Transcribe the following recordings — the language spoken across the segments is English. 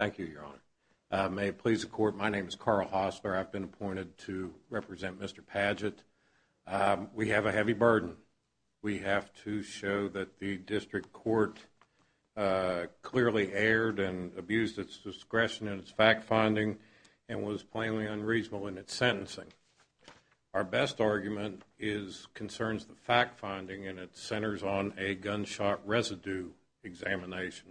Thank you, Your Honor. May it please the Court, my name is Carl Hosler. I've been appointed to represent Mr. Padgett. We have a heavy burden. We have to show that the District Court clearly erred and abused its discretion in its fact-finding and was plainly unreasonable in its sentencing. Our best argument concerns the fact-finding and it centers on a gunshot residue examination.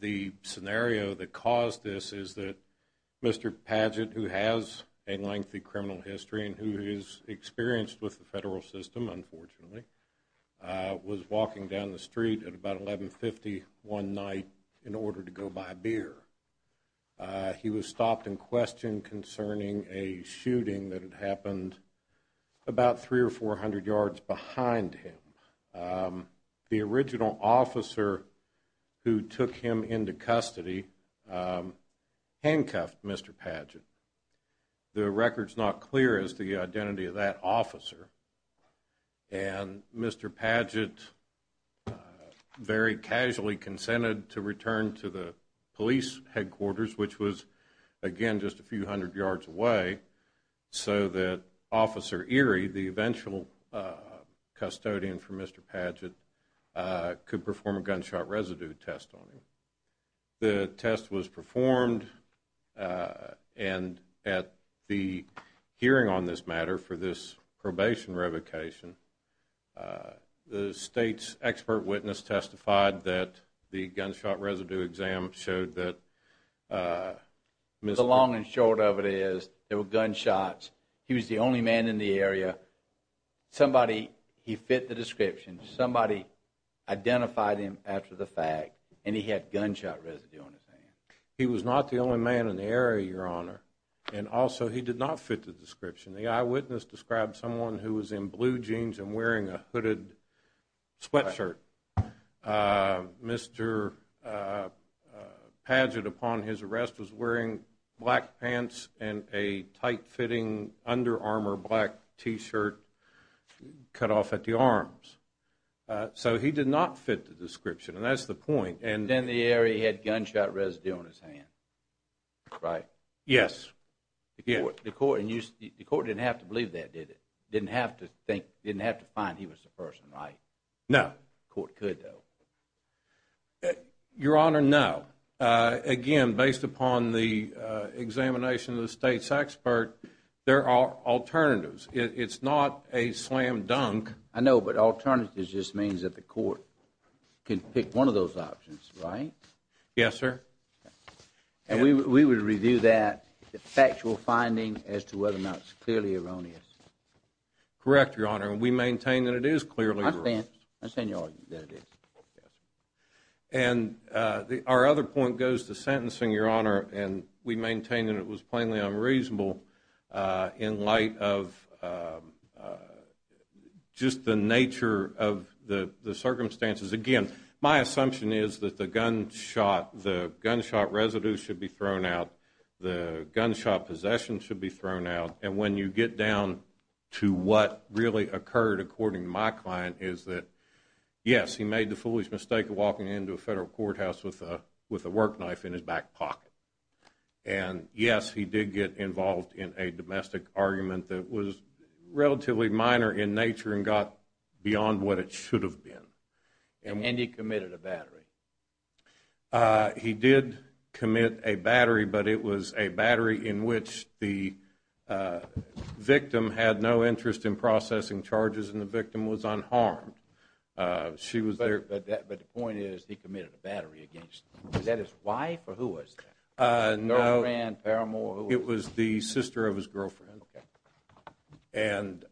The scenario that caused this is that Mr. Padgett, who has a lengthy criminal history and who is experienced with the federal system, unfortunately, was walking down the street at about 11.50 one night in order to go buy a beer. He was stopped in question concerning a shooting that had happened about 300 or 400 yards behind him. The original officer who took him into custody handcuffed Mr. Padgett. The record is not clear as to the identity of that officer. And Mr. Padgett very casually consented to return to the police headquarters, which was, again, just a few hundred yards away, so that Officer Erie, the eventual custodian for Mr. Padgett, could perform a gunshot residue test on him. The test was performed and at the hearing on this matter for this probation revocation, the State's expert witness testified that the gunshot residue exam showed that Mr. Padgett was the only man in the area. Somebody, he fit the description, somebody identified him after the fact and he had gunshot residue on his hand. He was not the only man in the area, Your Honor, and also he did not fit the description. The eyewitness described someone who was in blue jeans and wearing a hooded sweatshirt. Mr. Padgett, upon his arrest, was wearing black pants and a tight-fitting, under-armor, black t-shirt cut off at the arms. So he did not fit the description and that's the point. Then the area had gunshot residue on his hand, right? Yes. The court didn't have to believe that, did it? Didn't have to find he was the person, right? No. The court could, though. Your Honor, no. Again, based upon the examination of the State's expert, there are alternatives. It's not a slam dunk. I know, but alternatives just means that the court can pick one of those options, right? Yes, sir. And we would review that factual finding as to whether or not it's clearly erroneous. Correct, Your Honor, and we maintain that it is clearly erroneous. I stand to argue that it is. And our other point goes to sentencing, Your Honor, and we maintain that it was plainly unreasonable in light of just the nature of the circumstances. Again, my assumption is that the gunshot residue should be thrown out, the gunshot possession should be thrown out, and when you get down to what really occurred, according to my client, is that, yes, he made the foolish mistake of walking into a federal courthouse with a work knife in his back pocket. And yes, he did get involved in a domestic argument that was relatively minor in nature and got beyond what it should have been. He did commit a battery, but it was a battery in which the victim had no interest in processing charges and the victim was unharmed. But the point is, he committed a battery against his wife, or who was that? No, it was the sister of his girlfriend. And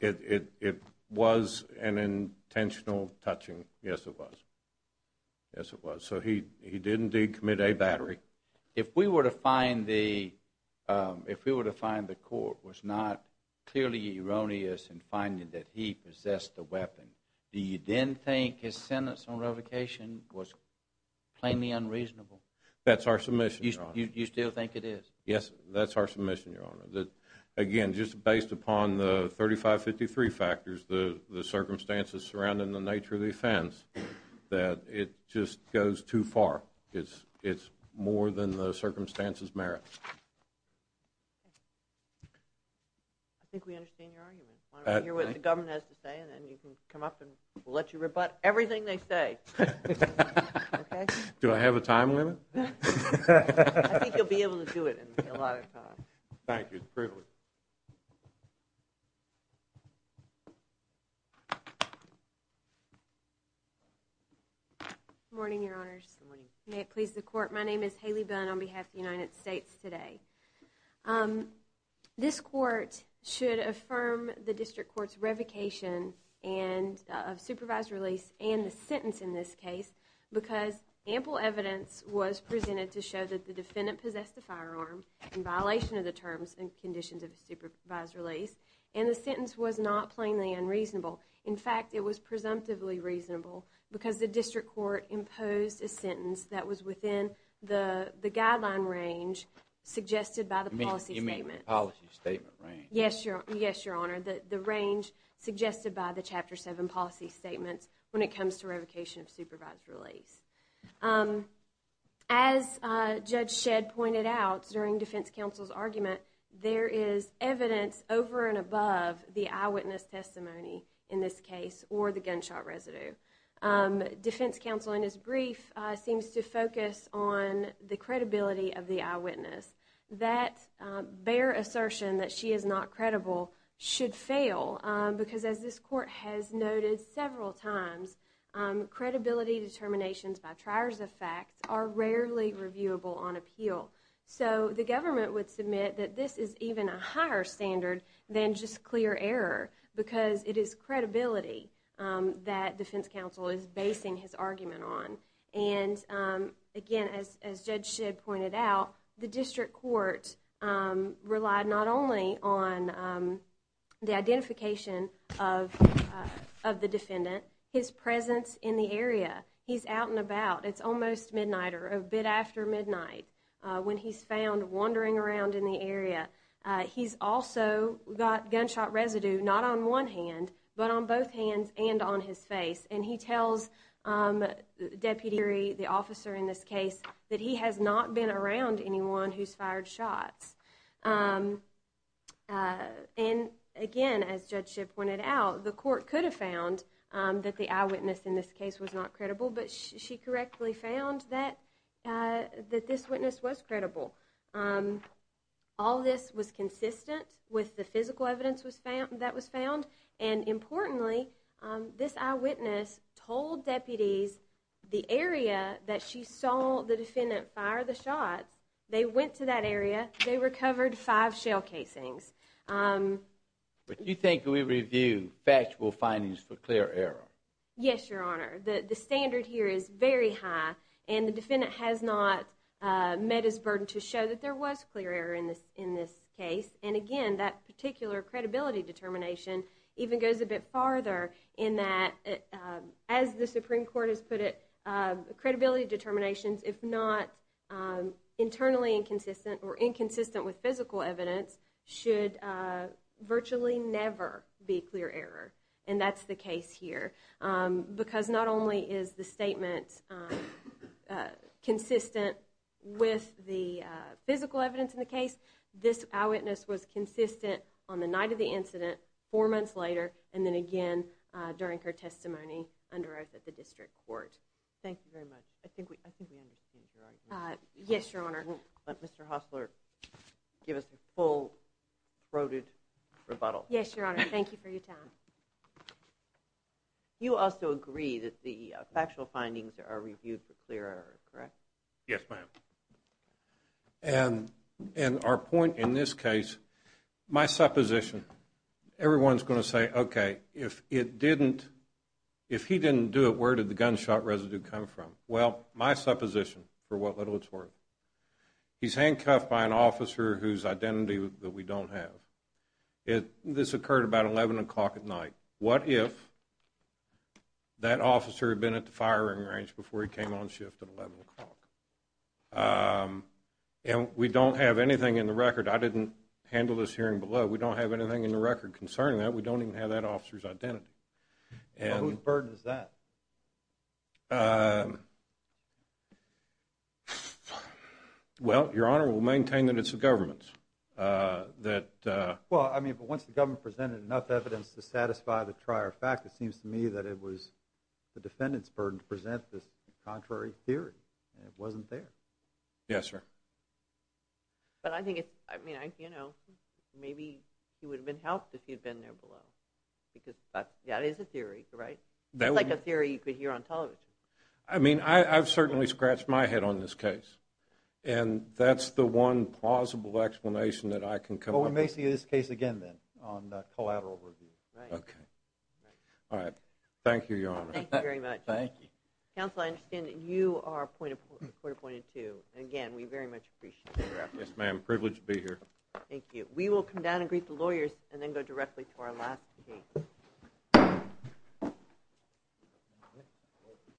it was an intentional touching, yes, it was, yes, it was. So he did indeed commit a battery. If we were to find the court was not clearly erroneous in finding that he possessed the weapon, do you then think his sentence on revocation was plainly unreasonable? That's our submission, Your Honor. You still think it is? Yes, that's our submission, Your Honor. Again, just based upon the 3553 factors, the circumstances surrounding the nature of the offense, that it just goes too far. It's more than the circumstances merit. I think we understand your argument. Why don't we hear what the government has to say, and then you can come up and we'll let you rebut everything they say. Do I have a time limit? I think you'll be able to do it in a lot of time. Thank you, it's a privilege. Good morning, Your Honors. May it please the Court, my name is Haley Bunn on behalf of the United States today. This Court should affirm the District Court's revocation of supervised release and the sentence in this case because ample evidence was presented to show that the defendant possessed a firearm in violation of the terms and conditions of the supervised release, and the sentence was not plainly unreasonable. In fact, it was presumptively reasonable because the District Court imposed a sentence that was within the guideline range suggested by the policy statement. You mean the policy statement range? Yes, Your Honor. The range suggested by the Chapter 7 policy statements when it comes to revocation of supervised release. As Judge Shedd pointed out during defense counsel's argument, there is evidence over and above the eyewitness testimony in this case or the gunshot residue. Defense counsel in his brief seems to focus on the credibility of the eyewitness. That bare assertion that she is not credible should fail because as this Court has noted several times, credibility determinations by triers of facts are rarely reviewable on appeal. So the government would submit that this is even a higher standard than just clear error because it is credibility that defense counsel is basing his argument on. And again, as Judge Shedd pointed out, the District Court relied not only on the identification of the defendant, his presence in the area. He's out and about. It's almost midnight or a bit after midnight when he's found wandering around in the area. He's also got gunshot residue not on one hand, but on both hands and on his face. And he tells the deputy, the officer in this case, that he has not been around anyone who's fired shots. And again, as Judge Shedd pointed out, the Court could have found that the eyewitness in this case was not credible, but she correctly found that this witness was credible. All this was consistent with the physical evidence that was found. And importantly, this eyewitness told deputies the area that she saw the defendant fire the shots, they went to that area, they recovered five shell casings. But you think we review factual findings for clear error? Yes, Your Honor. The standard here is very high and the defendant has not met his burden to show that there was clear error in this case. And again, that particular credibility determination even goes a bit farther in that, as the Supreme Court has put it, credibility determinations, if not internally inconsistent or inconsistent with physical evidence, should virtually never be clear error. And that's the case here. Because not only is the statement consistent with the physical evidence in the case, this eyewitness was consistent on the night of the incident, four months later, and then again during her testimony under oath at the District Court. Thank you very much. I think we understand your argument. Yes, Your Honor. Let Mr. Hostler give us a full-throated rebuttal. Yes, Your Honor. Thank you for your time. You also agree that the factual findings are reviewed for clear error, correct? Yes, ma'am. And our point in this case, my supposition, everyone's going to say, okay, if it didn't, if he didn't do it, where did the gunshot residue come from? Well, my supposition, for what little it's worth, he's handcuffed by an officer whose identity that we don't have. This occurred about 11 o'clock at night. What if that officer had been at the firing range before he came on shift at 11 o'clock? And we don't have anything in the record. I didn't handle this hearing below. We don't have anything in the record concerning that. We don't even have that officer's identity. Whose burden is that? Well, Your Honor, we'll maintain that it's the government's. Well, I mean, but once the government presented enough evidence to satisfy the trier fact, it seems to me that it was the defendant's burden to present this contrary theory. It wasn't theirs. Yes, sir. But I think it's, I mean, you know, maybe he would have been helped if he had been there below. Because that is a theory, right? That's like a theory you could hear on television. I mean, I've certainly scratched my head on this case. And that's the one plausible explanation that I can come up with. Well, we may see this case again then on collateral review. Okay. All right. Thank you, Your Honor. Thank you very much. Thank you. Counsel, I understand that you are appointed, court appointed to. And again, we very much appreciate that. Yes, ma'am. Privileged to be here. Thank you. We will come down and greet the lawyers and then go directly to our last case. All right.